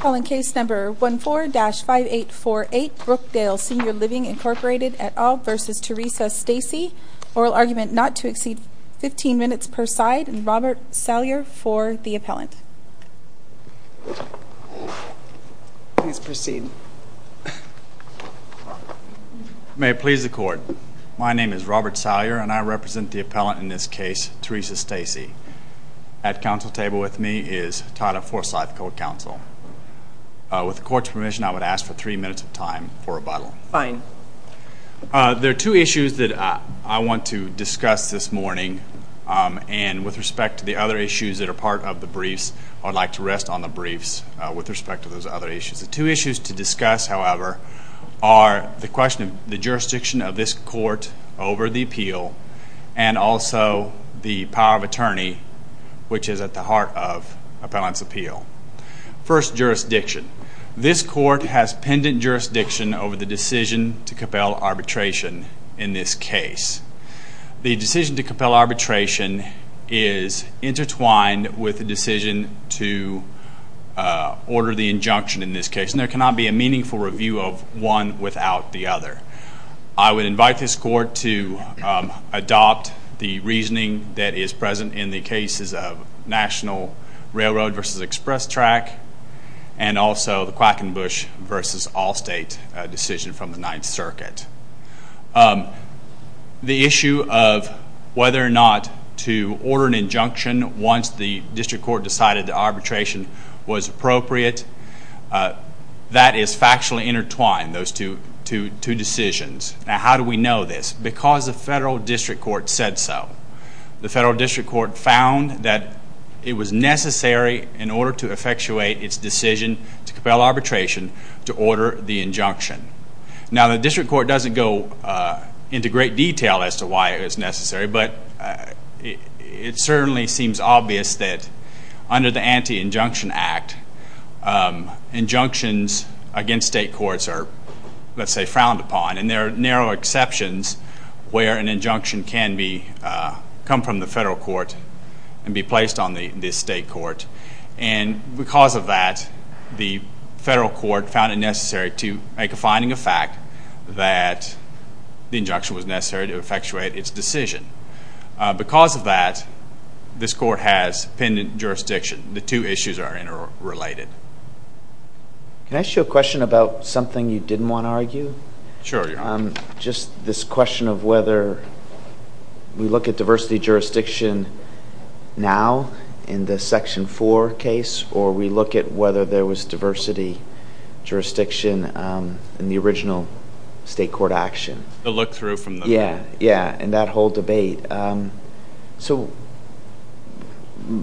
Calling case number 14-5848, Brookdale Senior Living Inc v. Teresa Stacy Oral argument not to exceed 15 minutes per side. Robert Salyer for the appellant. Please proceed. May it please the court. My name is Robert Salyer and I represent the appellant in this case, Teresa Stacy. At council table with me is Tyler Forsyth, co-counsel. With the court's permission, I would ask for three minutes of time for rebuttal. Fine. There are two issues that I want to discuss this morning and with respect to the other issues that are part of the briefs, I'd like to rest on the briefs with respect to those other issues. The two issues to discuss, however, are the question of the jurisdiction of this court over the appeal and also the power of attorney, which is at the heart of appellant's appeal. First, jurisdiction. This court has pendent jurisdiction over the decision to compel arbitration in this case. The decision to compel arbitration is intertwined with the decision to order the injunction in this case. There cannot be a meaningful review of one without the other. I would invite this court to adopt the reasoning that is present in the cases of National Railroad v. Express Track and also the Quackenbush v. Allstate decision from the Ninth Circuit. The issue of whether or not to order an injunction once the district court decided the arbitration was appropriate, that is factually intertwined, those two decisions. Now, how do we know this? Because the federal district court said so. The federal district court found that it was necessary in order to effectuate its decision to compel arbitration to order the injunction. Now, the district court doesn't go into great detail as to why it was necessary, but it certainly seems obvious that under the Anti-Injunction Act, injunctions against state courts are, let's say, frowned upon. And there are narrow exceptions where an injunction can come from the federal court and be placed on the state court. And because of that, the federal court found it necessary to make a finding of fact that the injunction was necessary to effectuate its decision. Because of that, this court has pendent jurisdiction. The two issues are interrelated. Can I ask you a question about something you didn't want to argue? Sure. Just this question of whether we look at diversity jurisdiction now in the Section 4 case or we look at whether there was diversity jurisdiction in the original state court action. The look-through from the... Yeah, yeah, and that whole debate. So,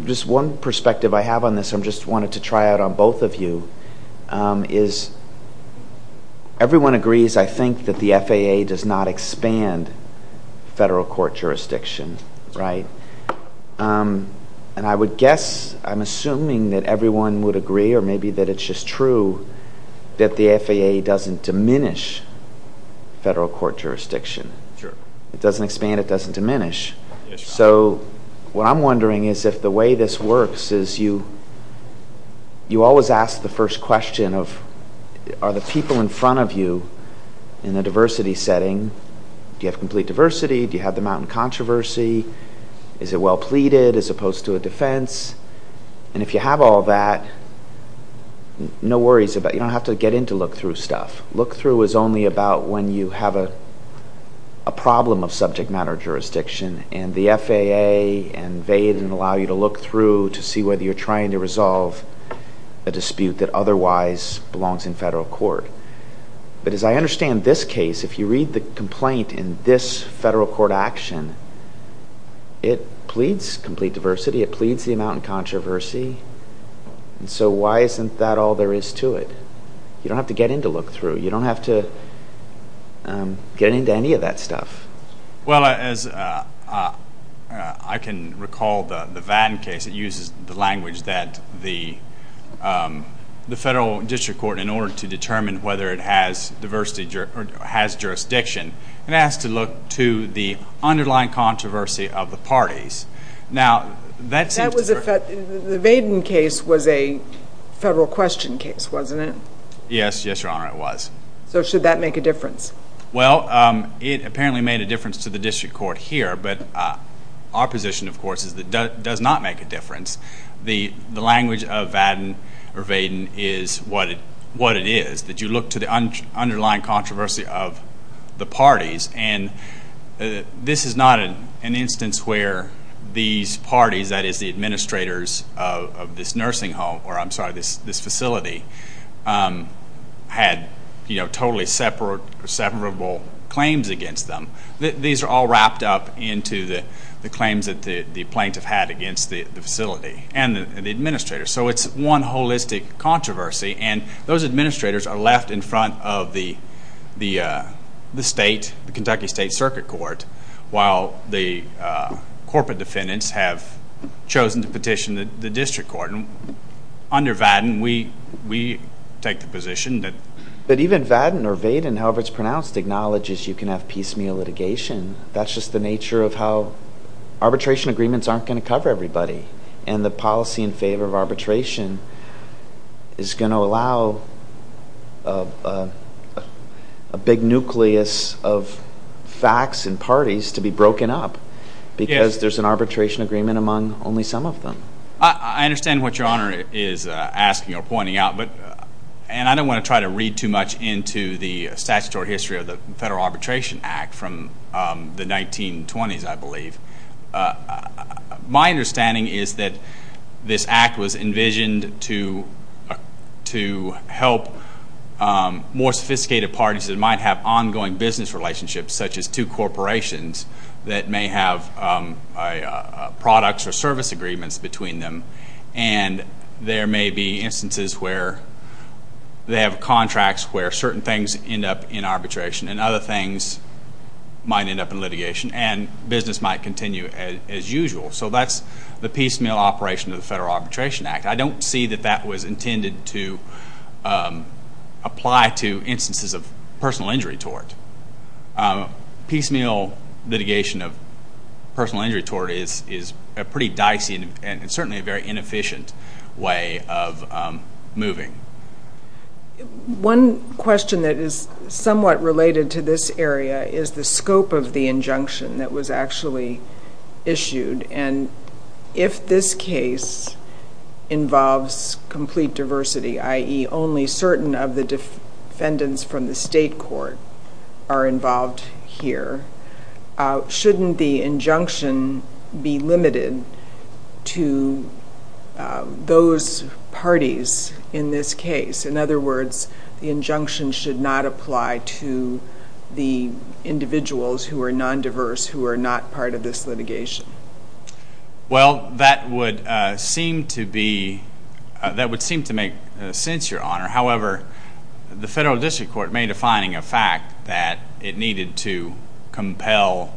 just one perspective I have on this, I just wanted to try out on both of you, is everyone agrees, I think, that the FAA does not expand federal court jurisdiction, right? And I would guess, I'm assuming that everyone would agree, or maybe that it's just true, that the FAA doesn't diminish federal court jurisdiction. Sure. It doesn't expand, it doesn't diminish. Yes, Your Honor. So, what I'm wondering is if the way this works is you always ask the first question of, are the people in front of you in the diversity setting, do you have complete diversity, do you have the mountain controversy, is it well pleaded as opposed to a defense? And if you have all that, no worries about it, you don't have to get into look-through stuff. Look-through is only about when you have a problem of subject matter jurisdiction and the FAA and VAID allow you to look through to see whether you're trying to resolve a dispute that otherwise belongs in federal court. But as I understand this case, if you read the complaint in this federal court action, it pleads complete diversity, it pleads the amount of controversy, and so why isn't that all there is to it? You don't have to get into look-through, you don't have to get into any of that stuff. Well, as I can recall the Vann case, it uses the language that the federal district court, in order to determine whether it has diversity or has jurisdiction, and asks to look to the underlying controversy of the parties. Now, that seems to... That was a, the Vann case was a federal question case, wasn't it? Yes, yes, Your Honor, it was. So should that make a difference? Well, it apparently made a difference to the district court here, because the language of Vann or Vaden is what it is, that you look to the underlying controversy of the parties, and this is not an instance where these parties, that is the administrators of this nursing home, or I'm sorry, this facility, had totally separable claims against them. These are all wrapped up into the claims that the plaintiff had against the facility, and the administrators. So it's one holistic controversy, and those administrators are left in front of the state, the Kentucky State Circuit Court, while the corporate defendants have chosen to petition the district court. Under Vaden, we take the position that... That's just the nature of how arbitration agreements aren't going to cover everybody, and the policy in favor of arbitration is going to allow a big nucleus of facts and parties to be broken up, because there's an arbitration agreement among only some of them. I understand what Your Honor is asking or pointing out, and I don't want to try to read too much into the statutory history of the Federal Arbitration Act from the 1920s, I believe. My understanding is that this act was envisioned to help more sophisticated parties that might have ongoing business relationships, such as two corporations that may have products or service agreements between them, and there may be instances where they have contracts where certain things end up in arbitration, and other things might end up in litigation, and business might continue as usual. So that's the piecemeal operation of the Federal Arbitration Act. I don't see that that was intended to apply to instances of personal injury tort. Piecemeal litigation of personal injury tort is a pretty dicey and certainly a very inefficient way of moving. One question that is somewhat related to this area is the scope of the injunction that was actually issued, and if this case involves complete diversity, i.e. only certain of the defendants from the state court are involved here, shouldn't the injunction be limited to those parties in this case? In other words, the injunction should not apply to the individuals who are non-diverse, who are not part of this litigation. Well, that would seem to make sense, Your Honor. However, the Federal District Court made a finding of fact that it needed to order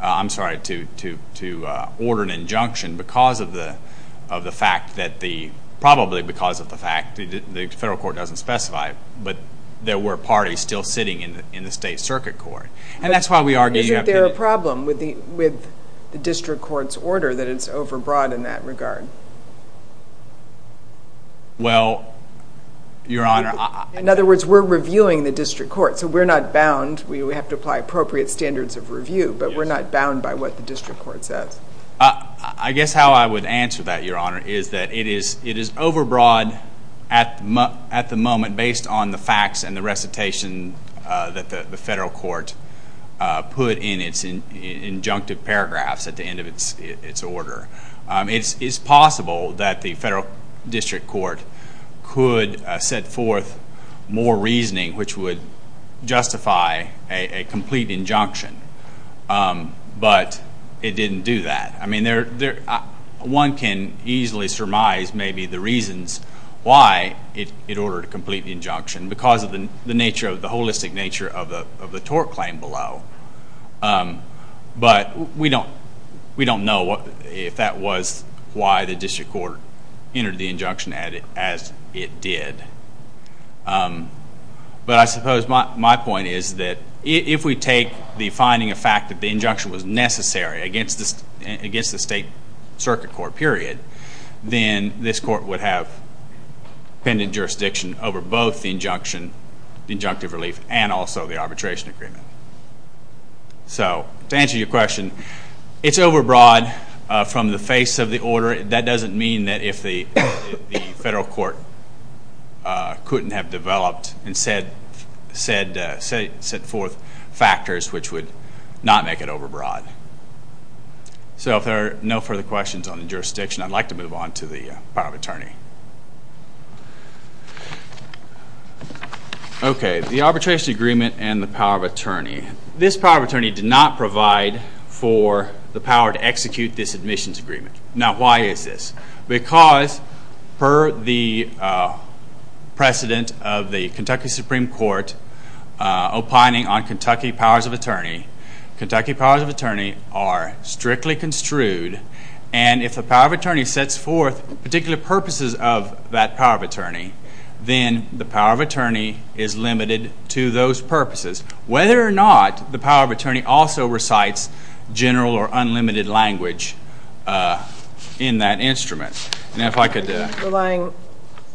an injunction probably because of the fact that the Federal Court doesn't specify, but there were parties still sitting in the state circuit court. Isn't there a problem with the District Court's order that it's overbroad in that regard? Well, Your Honor, I... In other words, we're reviewing the District Court, so we're not bound. We would have to apply appropriate standards of review, but we're not bound by what the District Court says. I guess how I would answer that, Your Honor, is that it is overbroad at the moment based on the facts and the recitation that the Federal Court put in its injunctive paragraphs at the end of its order. It's possible that the Federal District Court could set forth more reasoning which would justify a complete injunction, but it didn't do that. I mean, one can easily surmise maybe the reasons why it ordered a complete injunction because of the holistic nature of the tort claim below. But we don't know if that was why the District Court entered the injunction as it did. But I suppose my point is that if we take the finding of fact that the injunction was necessary against the state circuit court period, then this court would have pending jurisdiction over both the injunctive relief and also the arbitration agreement. So to answer your question, it's overbroad from the face of the order. That doesn't mean that if the Federal Court couldn't have developed and set forth factors which would not make it overbroad. So if there are no further questions on the jurisdiction, Okay, the arbitration agreement and the power of attorney. This power of attorney did not provide for the power to execute this admissions agreement. Now, why is this? Because per the precedent of the Kentucky Supreme Court opining on Kentucky powers of attorney, Kentucky powers of attorney are strictly construed, and if the power of attorney sets forth particular purposes of that power of attorney, then the power of attorney is limited to those purposes. Whether or not the power of attorney also recites general or unlimited language in that instrument. And if I could... Relying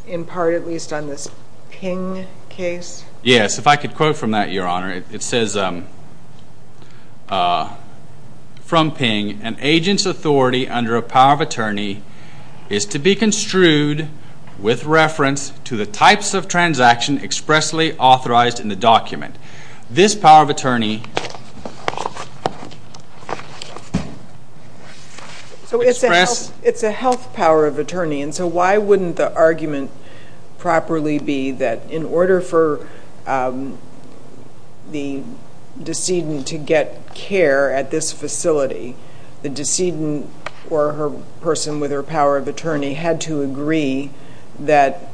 in part at least on this Ping case? Yes, if I could quote from that, Your Honor. It says from Ping, An agent's authority under a power of attorney is to be construed with reference to the types of transaction expressly authorized in the document. This power of attorney... So it's a health power of attorney, and so why wouldn't the argument properly be that in order for the decedent to get care at this facility, the decedent or her person with her power of attorney had to agree that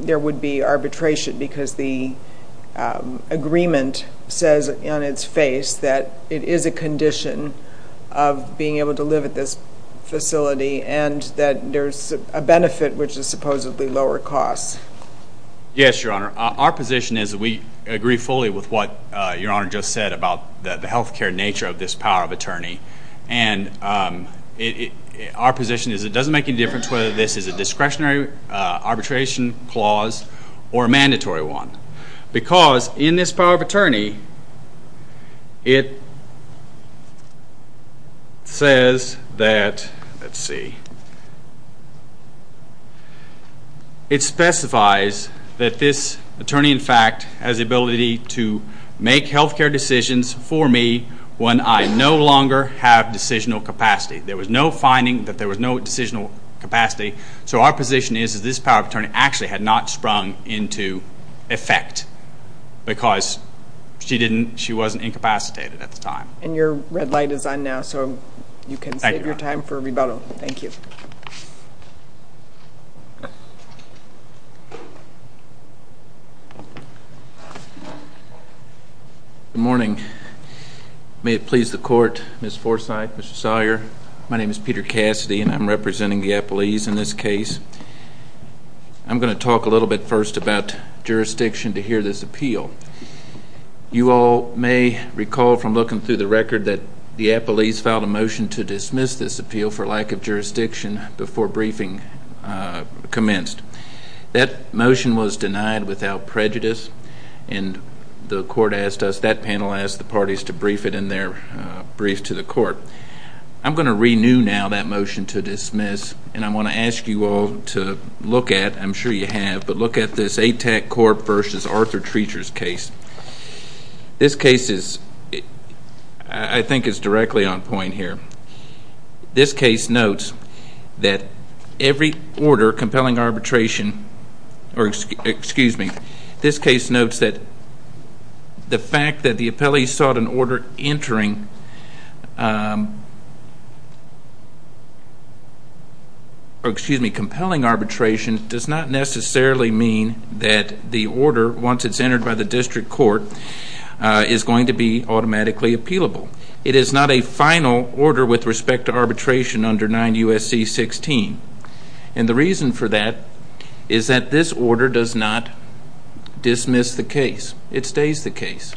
there would be arbitration because the agreement says on its face that it is a condition of being able to live at this facility and that there's a benefit which is supposedly lower cost. Yes, Your Honor. Our position is that we agree fully with what Your Honor just said about the health care nature of this power of attorney. And our position is it doesn't make any difference whether this is a discretionary arbitration clause or a mandatory one. Because in this power of attorney, it says that, let's see, it specifies that this attorney, in fact, has the ability to make health care decisions for me when I no longer have decisional capacity. There was no finding that there was no decisional capacity. So our position is that this power of attorney actually had not sprung into effect because she wasn't incapacitated at the time. And your red light is on now so you can save your time for rebuttal. Thank you. Good morning. May it please the court, Ms. Forsythe, Mr. Sawyer, my name is Peter Cassidy and I'm representing the appellees in this case. I'm going to talk a little bit first about jurisdiction to hear this appeal. You all may recall from looking through the record that the appellees filed a motion to dismiss this appeal for lack of jurisdiction before briefing commenced. That motion was denied without prejudice. And the court asked us, that panel asked the parties to brief it in their brief to the court. I'm going to renew now that motion to dismiss and I want to ask you all to look at, I'm sure you have, but look at this ATAC Corp versus Arthur Treacher's case. This case is, I think, is directly on point here. This case notes that every order compelling arbitration, or excuse me, This case notes that the fact that the appellee sought an order entering, or excuse me, compelling arbitration, does not necessarily mean that the order, once it's entered by the district court, is going to be automatically appealable. It is not a final order with respect to arbitration under 9 U.S.C. 16. And the reason for that is that this order does not dismiss the case. It stays the case.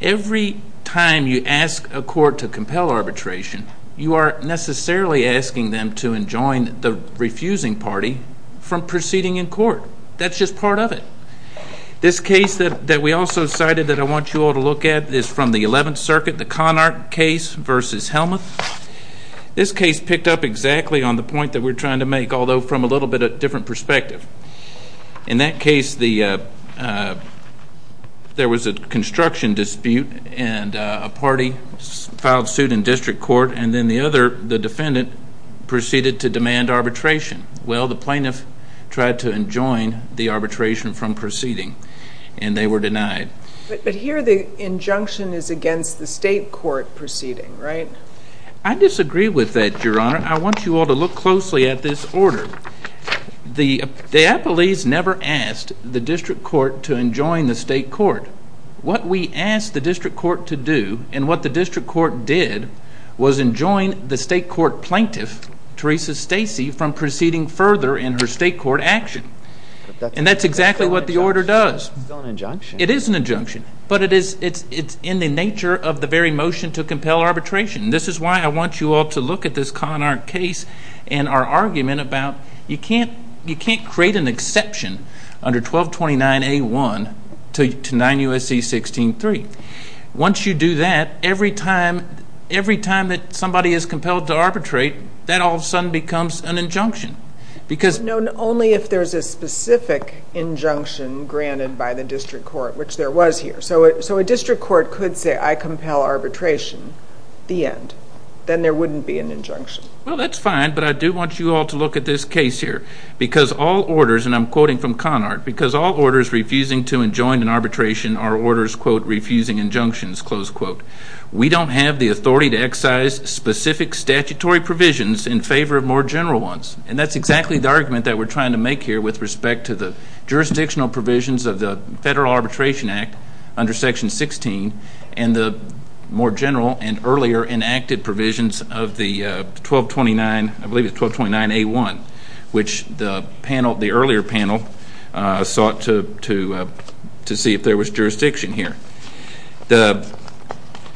Every time you ask a court to compel arbitration, you are necessarily asking them to enjoin the refusing party from proceeding in court. That's just part of it. This case that we also cited that I want you all to look at is from the 11th Circuit, the Connacht case versus Helmuth. This case picked up exactly on the point that we're trying to make, although from a little bit of a different perspective. In that case, there was a construction dispute, and a party filed suit in district court, and then the defendant proceeded to demand arbitration. Well, the plaintiff tried to enjoin the arbitration from proceeding, and they were denied. But here the injunction is against the state court proceeding, right? I disagree with that, Your Honor. I want you all to look closely at this order. The appellees never asked the district court to enjoin the state court. What we asked the district court to do, and what the district court did, was enjoin the state court plaintiff, Teresa Stacy, from proceeding further in her state court action. And that's exactly what the order does. It's still an injunction. It is an injunction, but it's in the nature of the very motion to compel arbitration. This is why I want you all to look at this Connacht case and our argument about you can't create an exception under 1229A1 to 9 U.S.C. 16-3. Once you do that, every time that somebody is compelled to arbitrate, that all of a sudden becomes an injunction. Only if there's a specific injunction granted by the district court, which there was here. So a district court could say, I compel arbitration, the end. Then there wouldn't be an injunction. Well, that's fine, but I do want you all to look at this case here. Because all orders, and I'm quoting from Connacht, because all orders refusing to enjoin an arbitration are orders, quote, refusing injunctions, close quote. We don't have the authority to excise specific statutory provisions in favor of more general ones. And that's exactly the argument that we're trying to make here with respect to the jurisdictional provisions of the Federal Arbitration Act under Section 16 and the more general and earlier enacted provisions of the 1229A1, which the earlier panel sought to see if there was jurisdiction here.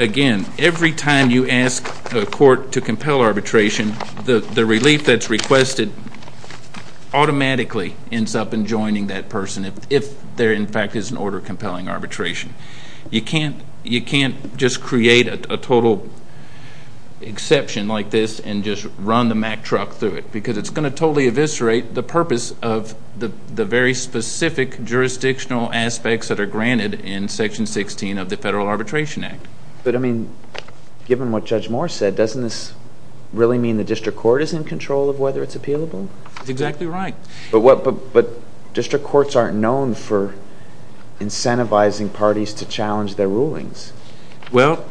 Again, every time you ask a court to compel arbitration, the relief that's requested automatically ends up enjoining that person if there, in fact, is an order compelling arbitration. You can't just create a total exception like this and just run the Mack truck through it, because it's going to totally eviscerate the purpose of the very specific jurisdictional aspects that are granted in Section 16 of the Federal Arbitration Act. But, I mean, given what Judge Moore said, doesn't this really mean the district court is in control of whether it's appealable? That's exactly right. But district courts aren't known for incentivizing parties to challenge their rulings. Well,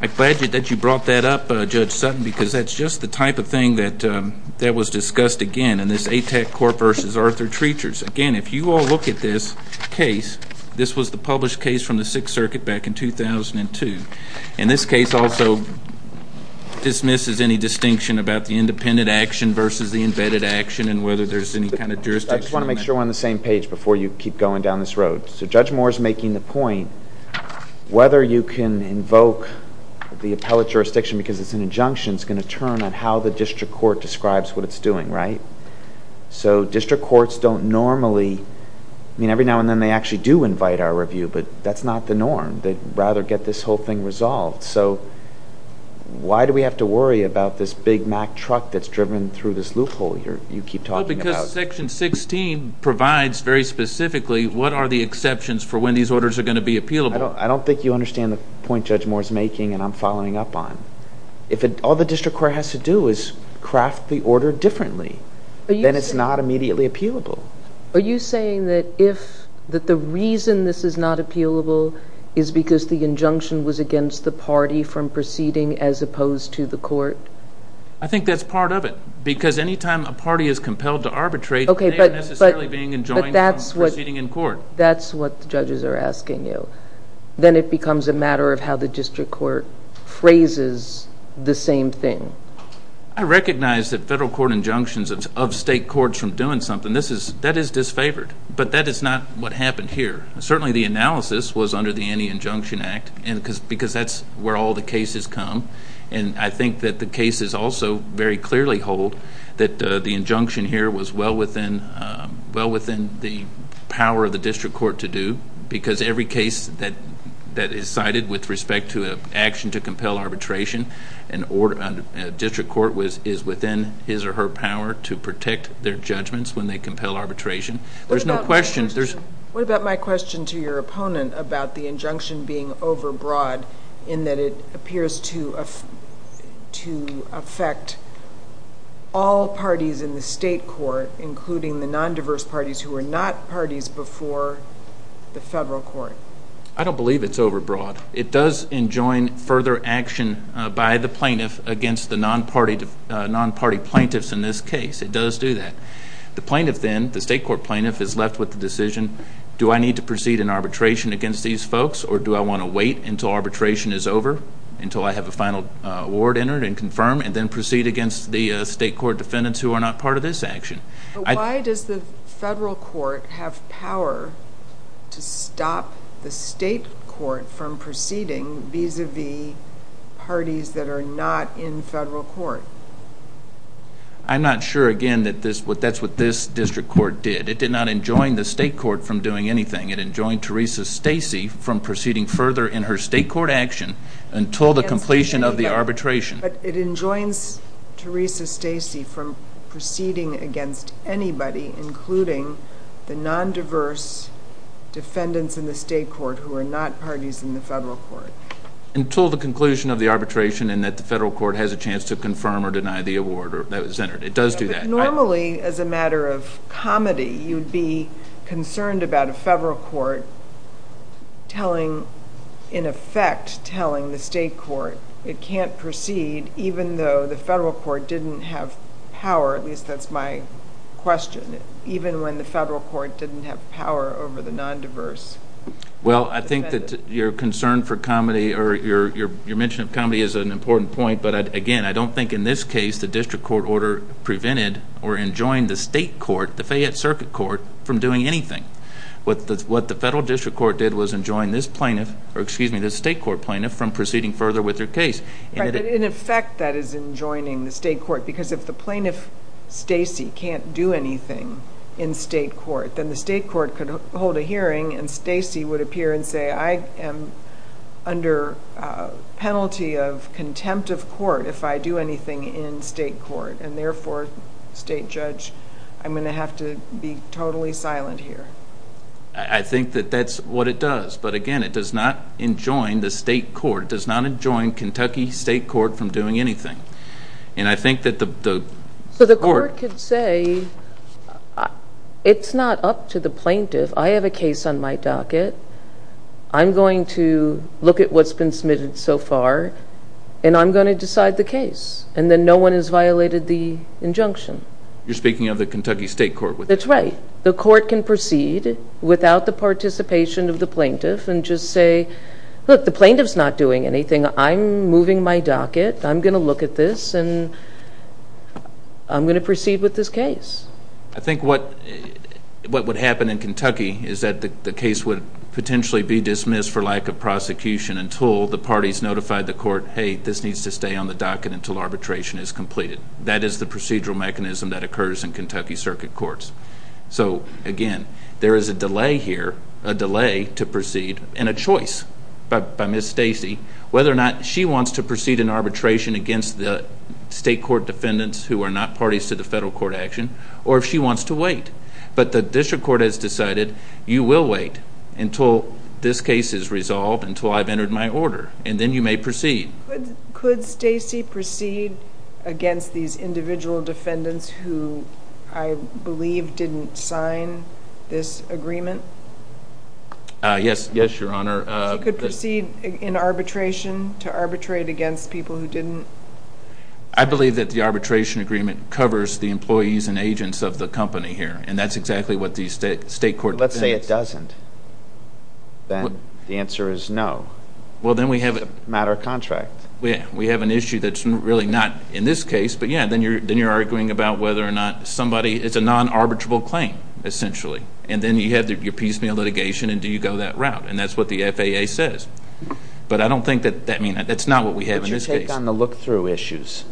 I'm glad that you brought that up, Judge Sutton, because that's just the type of thing that was discussed again in this ATAC court versus Arthur Treachers. Again, if you all look at this case, this was the published case from the Sixth Circuit back in 2002, and this case also dismisses any distinction about the independent action versus the embedded action and whether there's any kind of jurisdiction. I just want to make sure we're on the same page before you keep going down this road. So Judge Moore is making the point, whether you can invoke the appellate jurisdiction because it's an injunction is going to turn on how the district court describes what it's doing, right? So district courts don't normally— I mean, every now and then they actually do invite our review, but that's not the norm. They'd rather get this whole thing resolved. So why do we have to worry about this big Mack truck that's driven through this loophole you keep talking about? Well, because Section 16 provides very specifically what are the exceptions for when these orders are going to be appealable. I don't think you understand the point Judge Moore is making and I'm following up on. If all the district court has to do is craft the order differently, then it's not immediately appealable. Are you saying that the reason this is not appealable is because the injunction was against the party from proceeding as opposed to the court? I think that's part of it because any time a party is compelled to arbitrate, they're not necessarily being enjoined from proceeding in court. That's what the judges are asking you. Then it becomes a matter of how the district court phrases the same thing. I recognize that federal court injunctions of state courts from doing something, that is disfavored, but that is not what happened here. Certainly the analysis was under the Anti-Injunction Act because that's where all the cases come, and I think that the cases also very clearly hold that the injunction here was well within the power of the district court to do because every case that is cited with respect to an action to compel arbitration, a district court is within his or her power to protect their judgments when they compel arbitration. There's no question. What about my question to your opponent about the injunction being overbroad in that it appears to affect all parties in the state court, including the non-diverse parties who are not parties before the federal court? I don't believe it's overbroad. It does enjoin further action by the plaintiff against the non-party plaintiffs in this case. It does do that. The plaintiff then, the state court plaintiff, is left with the decision, do I need to proceed in arbitration against these folks or do I want to wait until arbitration is over, until I have a final award entered and confirmed, and then proceed against the state court defendants who are not part of this action? Why does the federal court have power to stop the state court from proceeding vis-à-vis parties that are not in federal court? I'm not sure, again, that that's what this district court did. It did not enjoin the state court from doing anything. It enjoined Teresa Stacy from proceeding further in her state court action until the completion of the arbitration. But it enjoins Teresa Stacy from proceeding against anybody, including the non-diverse defendants in the state court who are not parties in the federal court? Until the conclusion of the arbitration and that the federal court has a chance to confirm or deny the award that was entered. It does do that. Normally, as a matter of comedy, you'd be concerned about a federal court telling, in effect, telling the state court it can't proceed even though the federal court didn't have power. At least that's my question. Even when the federal court didn't have power over the non-diverse defendants. Well, I think that your concern for comedy or your mention of comedy is an important point. But, again, I don't think in this case the district court order prevented or enjoined the state court, the Fayette Circuit Court, from doing anything. What the federal district court did was enjoin this state court plaintiff from proceeding further with their case. In effect, that is enjoining the state court. Because if the plaintiff, Stacy, can't do anything in state court, then the state court could hold a hearing and Stacy would appear and say, I am under penalty of contempt of court if I do anything in state court. And, therefore, state judge, I'm going to have to be totally silent here. I think that that's what it does. But, again, it does not enjoin the state court. It does not enjoin Kentucky state court from doing anything. And I think that the court could say, it's not up to the plaintiff. I have a case on my docket. I'm going to look at what's been submitted so far, and I'm going to decide the case. And then no one has violated the injunction. You're speaking of the Kentucky state court. That's right. The court can proceed without the participation of the plaintiff and just say, look, the plaintiff's not doing anything. I'm moving my docket. I'm going to look at this, and I'm going to proceed with this case. I think what would happen in Kentucky is that the case would potentially be dismissed for lack of prosecution until the parties notified the court, hey, this needs to stay on the docket until arbitration is completed. That is the procedural mechanism that occurs in Kentucky circuit courts. So, again, there is a delay here, a delay to proceed, and a choice by Ms. Stacy whether or not she wants to proceed in arbitration against the state court defendants who are not parties to the federal court action or if she wants to wait. But the district court has decided you will wait until this case is resolved, until I've entered my order, and then you may proceed. Could Stacy proceed against these individual defendants who I believe didn't sign this agreement? Yes, Your Honor. Could she proceed in arbitration to arbitrate against people who didn't? I believe that the arbitration agreement covers the employees and agents of the company here, and that's exactly what the state court defendants. If it doesn't, then the answer is no. Well, then we have a matter of contract. We have an issue that's really not in this case, but, yeah, then you're arguing about whether or not somebody is a non-arbitrable claim, essentially. And then you have your piecemeal litigation, and do you go that route? And that's what the FAA says. But I don't think that that's not what we have in this case. What's your take on the look-through issues?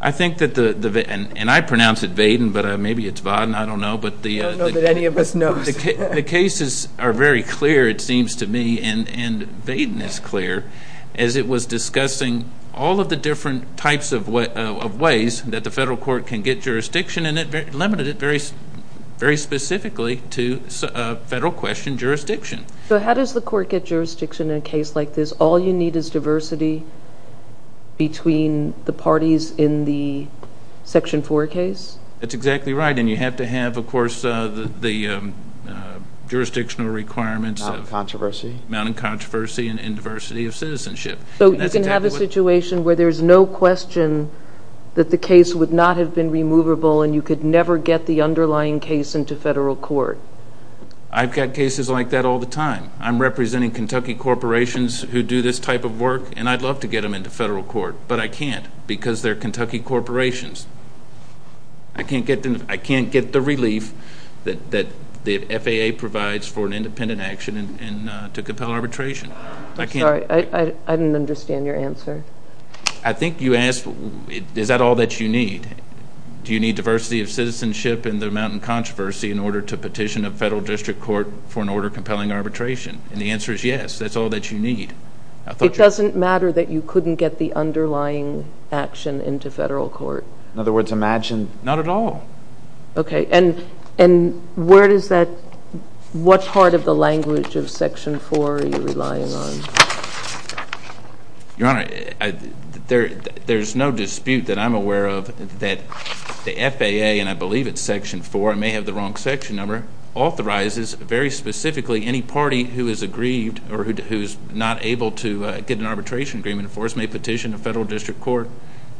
I think that the, and I pronounce it Vaden, but maybe it's Va-den, I don't know. I don't know that any of us knows. The cases are very clear, it seems to me, and Vaden is clear as it was discussing all of the different types of ways that the federal court can get jurisdiction, and it limited it very specifically to federal question jurisdiction. So how does the court get jurisdiction in a case like this? All you need is diversity between the parties in the Section 4 case? That's exactly right. And you have to have, of course, the jurisdictional requirements of Mounting controversy. Mounting controversy and diversity of citizenship. So you can have a situation where there's no question that the case would not have been removable and you could never get the underlying case into federal court? I've got cases like that all the time. I'm representing Kentucky corporations who do this type of work, and I'd love to get them into federal court, but I can't because they're Kentucky corporations. I can't get the relief that the FAA provides for an independent action to compel arbitration. I'm sorry, I didn't understand your answer. I think you asked, is that all that you need? Do you need diversity of citizenship in the Mounting controversy in order to petition a federal district court for an order compelling arbitration? And the answer is yes, that's all that you need. It doesn't matter that you couldn't get the underlying action into federal court? In other words, imagine. Not at all. Okay, and where does that, what part of the language of Section 4 are you relying on? Your Honor, there's no dispute that I'm aware of that the FAA, and I believe it's Section 4, I may have the wrong section number, authorizes very specifically any party who is aggrieved or who is not able to get an arbitration agreement and force may petition a federal district court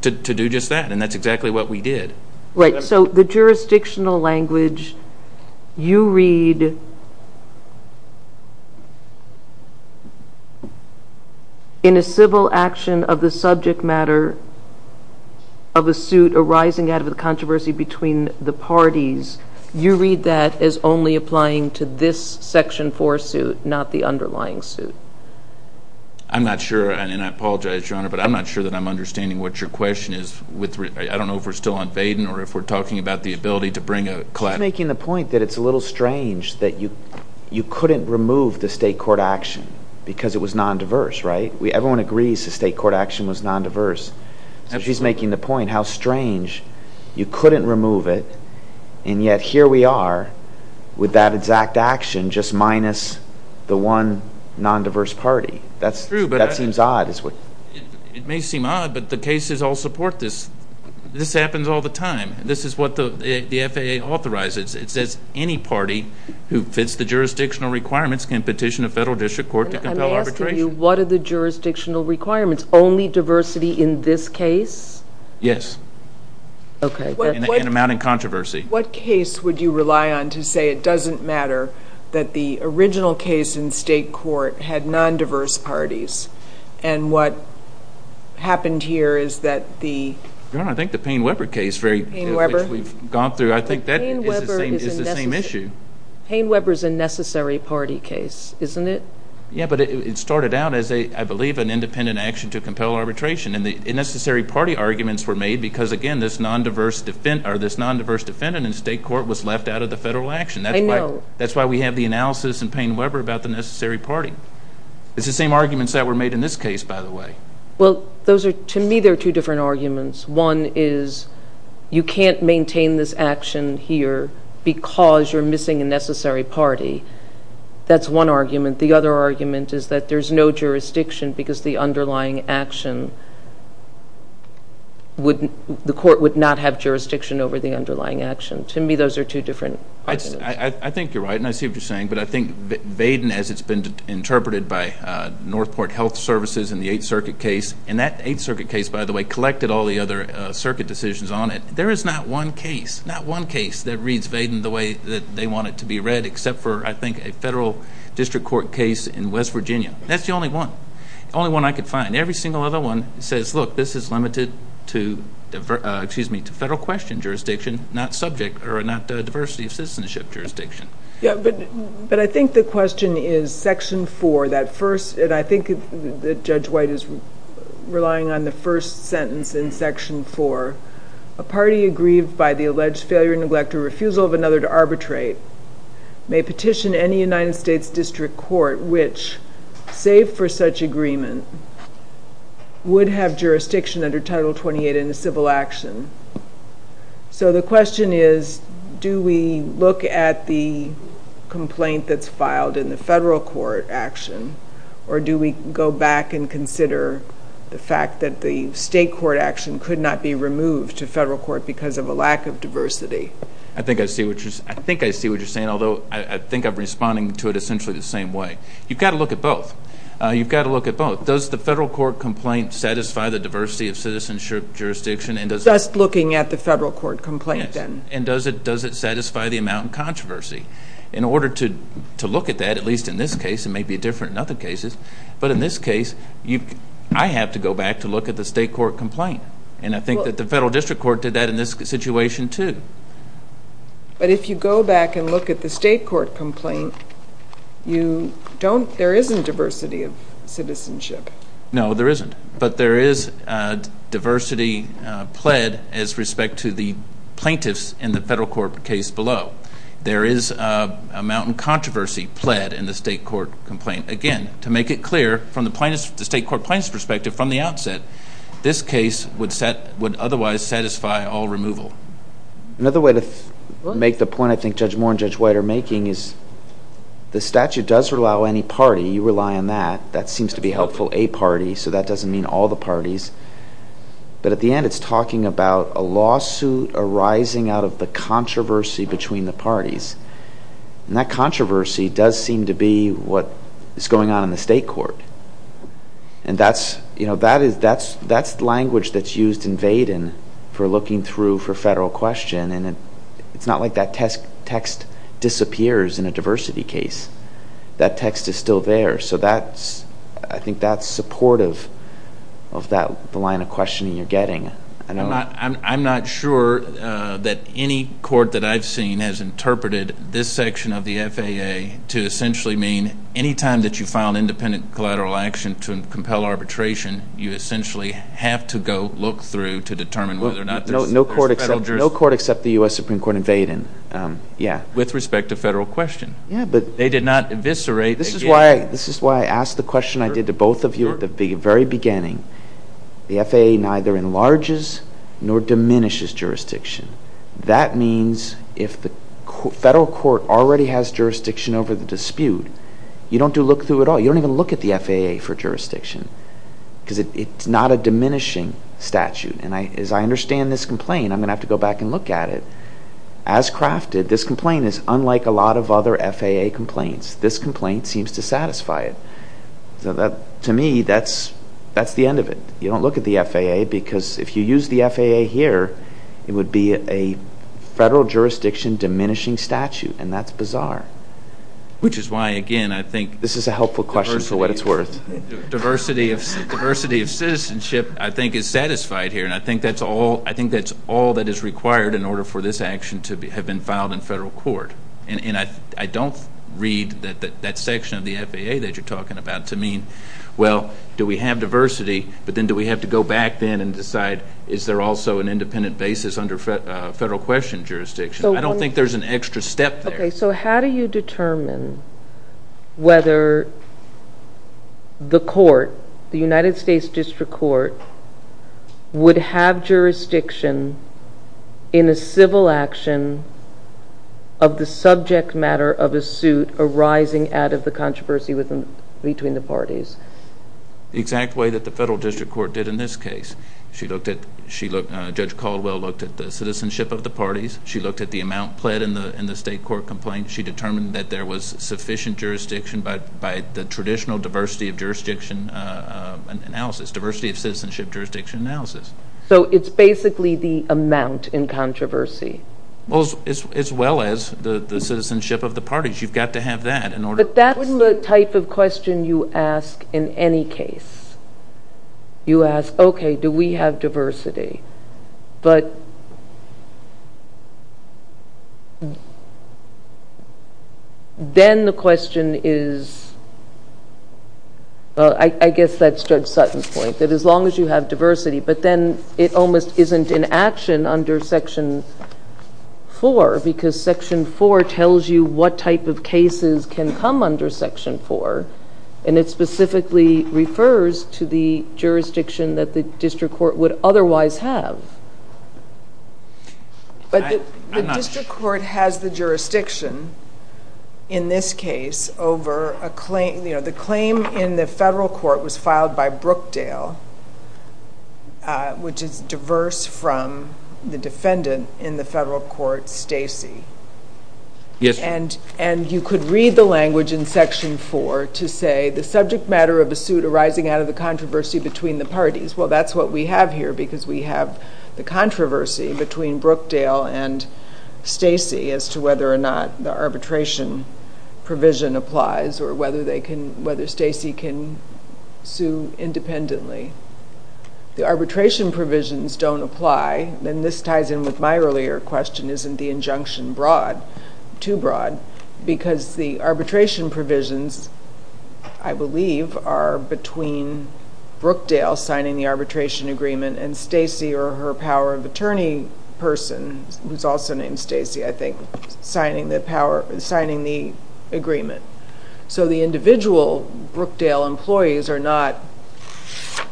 to do just that, and that's exactly what we did. Right, so the jurisdictional language you read, in a civil action of the subject matter of a suit arising out of the controversy between the parties, you read that as only applying to this Section 4 suit, not the underlying suit. I'm not sure, and I apologize, Your Honor, but I'm not sure that I'm understanding what your question is. I don't know if we're still on Vaden or if we're talking about the ability to bring a collective... She's making the point that it's a little strange that you couldn't remove the state court action because it was non-diverse, right? Everyone agrees the state court action was non-diverse. She's making the point how strange you couldn't remove it and yet here we are with that exact action just minus the one non-diverse party. That seems odd. It may seem odd, but the cases all support this. This happens all the time. This is what the FAA authorizes. It says any party who fits the jurisdictional requirements can petition a federal district court to compel arbitration. I'm asking you, what are the jurisdictional requirements? Only diversity in this case? Yes. And amount in controversy. What case would you rely on to say it doesn't matter that the original case in state court had non-diverse parties and what happened here is that the... Your Honor, I think the Payne-Webber case, which we've gone through, I think that is the same issue. Payne-Webber is a necessary party case, isn't it? Yes, but it started out as, I believe, an independent action to compel arbitration and the necessary party arguments were made because, again, this non-diverse defendant in state court was left out of the federal action. I know. That's why we have the analysis in Payne-Webber about the necessary party. It's the same arguments that were made in this case, by the way. Well, to me, they're two different arguments. One is you can't maintain this action here because you're missing a necessary party. That's one argument. The other argument is that there's no jurisdiction because the underlying action would... the court would not have jurisdiction over the underlying action. To me, those are two different arguments. I think you're right, and I see what you're saying, but I think Vaden, as it's been interpreted by Northport Health Services in the Eighth Circuit case, and that Eighth Circuit case, by the way, collected all the other circuit decisions on it. There is not one case, not one case that reads Vaden the way that they want it to be read, except for, I think, a federal district court case in West Virginia. That's the only one. The only one I could find. Every single other one says, look, this is limited to federal question jurisdiction, not subject or not diversity of citizenship jurisdiction. Yeah, but I think the question is Section 4, that first, and I think that Judge White is relying on the first sentence in Section 4, a party aggrieved by the alleged failure, neglect, or refusal of another to arbitrate may petition any United States district court which, save for such agreement, would have jurisdiction under Title 28 in a civil action. So the question is, do we look at the complaint that's filed in the federal court action, or do we go back and consider the fact that the state court action could not be removed to federal court because of a lack of diversity? I think I see what you're saying, although I think I'm responding to it essentially the same way. You've got to look at both. You've got to look at both. Does the federal court complaint satisfy the diversity of citizenship jurisdiction? Just looking at the federal court complaint, then. And does it satisfy the amount of controversy? In order to look at that, at least in this case, it may be different in other cases, but in this case I have to go back to look at the state court complaint. And I think that the federal district court did that in this situation, too. But if you go back and look at the state court complaint, there isn't diversity of citizenship. No, there isn't. But there is diversity pled as respect to the plaintiffs in the federal court case below. There is a mountain controversy pled in the state court complaint. Again, to make it clear from the state court plaintiff's perspective from the outset, this case would otherwise satisfy all removal. Another way to make the point I think Judge Moore and Judge White are making is the statute does allow any party. You rely on that. That seems to be helpful, a party, so that doesn't mean all the parties. But at the end, it's talking about a lawsuit arising out of the controversy between the parties. And that controversy does seem to be what is going on in the state court. And that's language that's used in Vaden for looking through for federal question. And it's not like that text disappears in a diversity case. That text is still there. So I think that's supportive of the line of questioning you're getting. I'm not sure that any court that I've seen has interpreted this section of the FAA to essentially mean any time that you file an independent collateral action to compel arbitration, you essentially have to go look through to determine whether or not there's federal jurisdiction. No court except the U.S. Supreme Court in Vaden. With respect to federal question. They did not eviscerate. This is why I asked the question I did to both of you at the very beginning. The FAA neither enlarges nor diminishes jurisdiction. That means if the federal court already has jurisdiction over the dispute, you don't do look through at all. You don't even look at the FAA for jurisdiction because it's not a diminishing statute. And as I understand this complaint, I'm going to have to go back and look at it. As crafted, this complaint is unlike a lot of other FAA complaints. This complaint seems to satisfy it. To me, that's the end of it. You don't look at the FAA because if you use the FAA here, it would be a federal jurisdiction diminishing statute, and that's bizarre. Which is why, again, I think... This is a helpful question for what it's worth. Diversity of citizenship, I think, is satisfied here, and I think that's all that is required in order for this action to have been filed in federal court. And I don't read that section of the FAA that you're talking about to mean, well, do we have diversity, but then do we have to go back then and decide, is there also an independent basis under federal question jurisdiction? I don't think there's an extra step there. Okay, so how do you determine whether the court, the United States District Court, would have jurisdiction in a civil action of the subject matter of a suit arising out of the controversy between the parties? The exact way that the federal district court did in this case. Judge Caldwell looked at the citizenship of the parties. She looked at the amount pled in the state court complaint. She determined that there was sufficient jurisdiction by the traditional diversity of jurisdiction analysis. Diversity of citizenship jurisdiction analysis. So it's basically the amount in controversy. As well as the citizenship of the parties. You've got to have that in order. But that's the type of question you ask in any case. You ask, okay, do we have diversity? But then the question is, well, I guess that's Judge Sutton's point. That as long as you have diversity, but then it almost isn't in action under Section 4. Because Section 4 tells you what type of cases can come under Section 4. And it specifically refers to the jurisdiction that the district court would otherwise have. But the district court has the jurisdiction in this case over a claim. The claim in the federal court was filed by Brookdale, which is diverse from the defendant in the federal court, Stacy. And you could read the language in Section 4 to say, the subject matter of a suit arising out of the controversy between the parties. Well, that's what we have here. Because we have the controversy between Brookdale and Stacy as to whether or not the arbitration provision applies. Or whether Stacy can sue independently. The arbitration provisions don't apply. And this ties in with my earlier question, isn't the injunction too broad? Because the arbitration provisions, I believe, are between Brookdale signing the arbitration agreement and Stacy or her power of attorney person, who's also named Stacy, I think, signing the agreement. So the individual Brookdale employees are not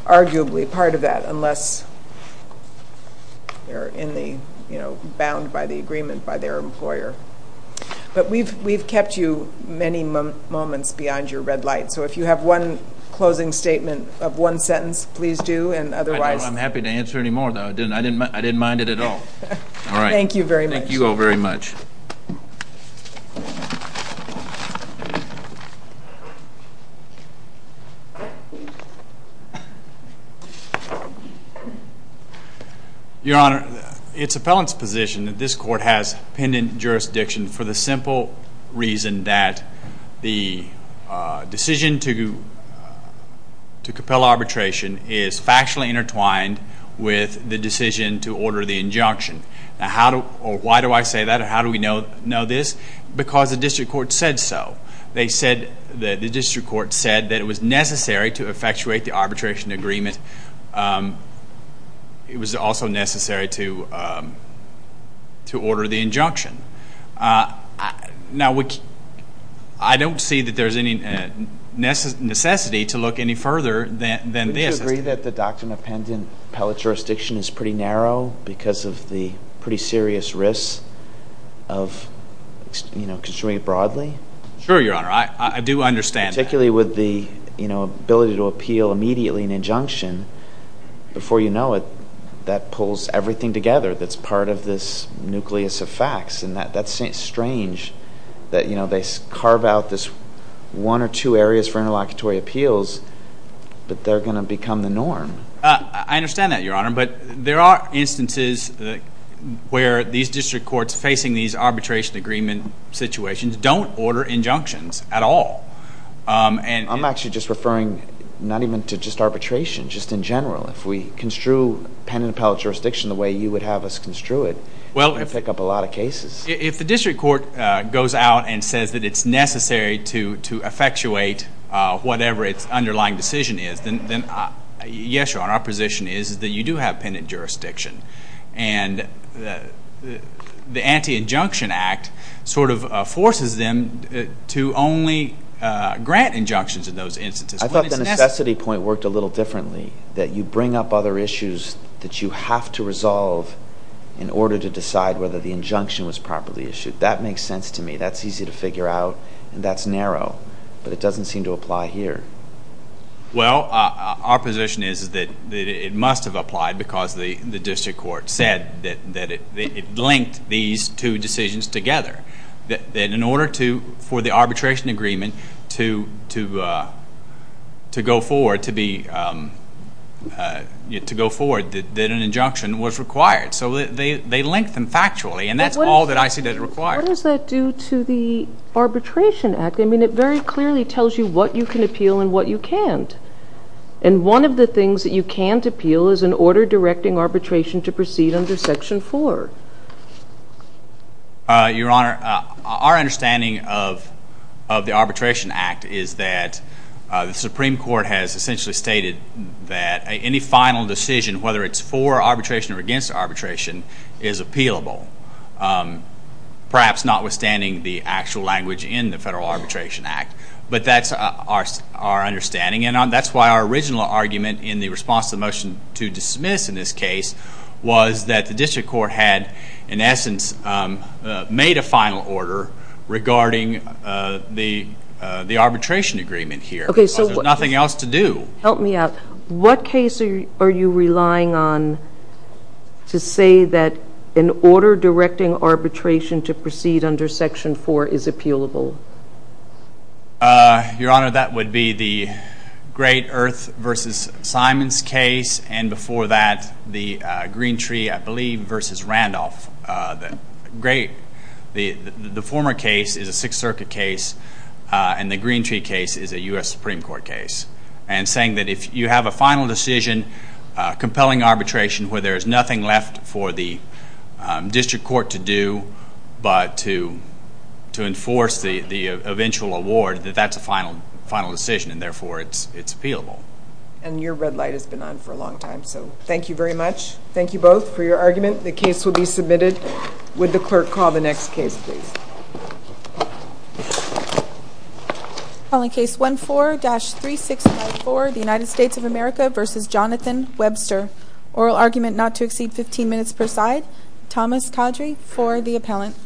arguably part of that unless they're bound by the agreement by their employer. But we've kept you many moments beyond your red light. So if you have one closing statement of one sentence, please do. I'm happy to answer any more, though. I didn't mind it at all. Thank you very much. Thank you all very much. Your Honor, it's appellant's position that this court has pendant jurisdiction for the simple reason that the decision to compel arbitration is factually intertwined with the decision to order the injunction. Why do I say that? How do we know this? Because the district court said so. The district court said that it was necessary to effectuate the arbitration agreement. It was also necessary to order the injunction. Now, I don't see that there's any necessity to look any further than this. Do you agree that the doctrine of pendant appellate jurisdiction is pretty narrow because of the pretty serious risks of, you know, construing it broadly? Sure, Your Honor. I do understand that. Particularly with the, you know, ability to appeal immediately an injunction, before you know it, that pulls everything together that's part of this nucleus of facts. And that's strange that, you know, they carve out this one or two areas for interlocutory appeals, but they're going to become the norm. I understand that, Your Honor. But there are instances where these district courts facing these arbitration agreement situations don't order injunctions at all. I'm actually just referring not even to just arbitration, just in general. If we construe pendant appellate jurisdiction the way you would have us construe it, it would pick up a lot of cases. If the district court goes out and says that it's necessary to effectuate whatever its underlying decision is, then, yes, Your Honor, our position is that you do have pendant jurisdiction. And the Anti-Injunction Act sort of forces them to only grant injunctions in those instances. I thought the necessity point worked a little differently, that you bring up other issues that you have to resolve in order to decide whether the injunction was properly issued. That makes sense to me. That's easy to figure out, and that's narrow. But it doesn't seem to apply here. Well, our position is that it must have applied because the district court said that it linked these two decisions together. That in order for the arbitration agreement to go forward, that an injunction was required. So they linked them factually, and that's all that I see that is required. What does that do to the Arbitration Act? I mean, it very clearly tells you what you can appeal and what you can't. And one of the things that you can't appeal is an order directing arbitration to proceed under Section 4. Your Honor, our understanding of the Arbitration Act is that the Supreme Court has essentially stated that any final decision, whether it's for arbitration or against arbitration, is appealable, perhaps notwithstanding the actual language in the Federal Arbitration Act. But that's our understanding. And that's why our original argument in the response to the motion to dismiss in this case was that the district court had, in essence, made a final order regarding the arbitration agreement here because there's nothing else to do. Help me out. What case are you relying on to say that an order directing arbitration to proceed under Section 4 is appealable? Your Honor, that would be the Great Earth v. Simons case, and before that, the Greentree, I believe, v. Randolph. The former case is a Sixth Circuit case, and the Greentree case is a U.S. Supreme Court case. And saying that if you have a final decision, compelling arbitration where there's nothing left for the district court to do but to enforce the eventual award, that that's a final decision, and therefore it's appealable. And your red light has been on for a long time, so thank you very much. Thank you both for your argument. The case will be submitted. Would the clerk call the next case, please? Calling case 14-3654, the United States of America v. Jonathan Webster. Oral argument not to exceed 15 minutes per side. Thomas Caudrey for the appellant.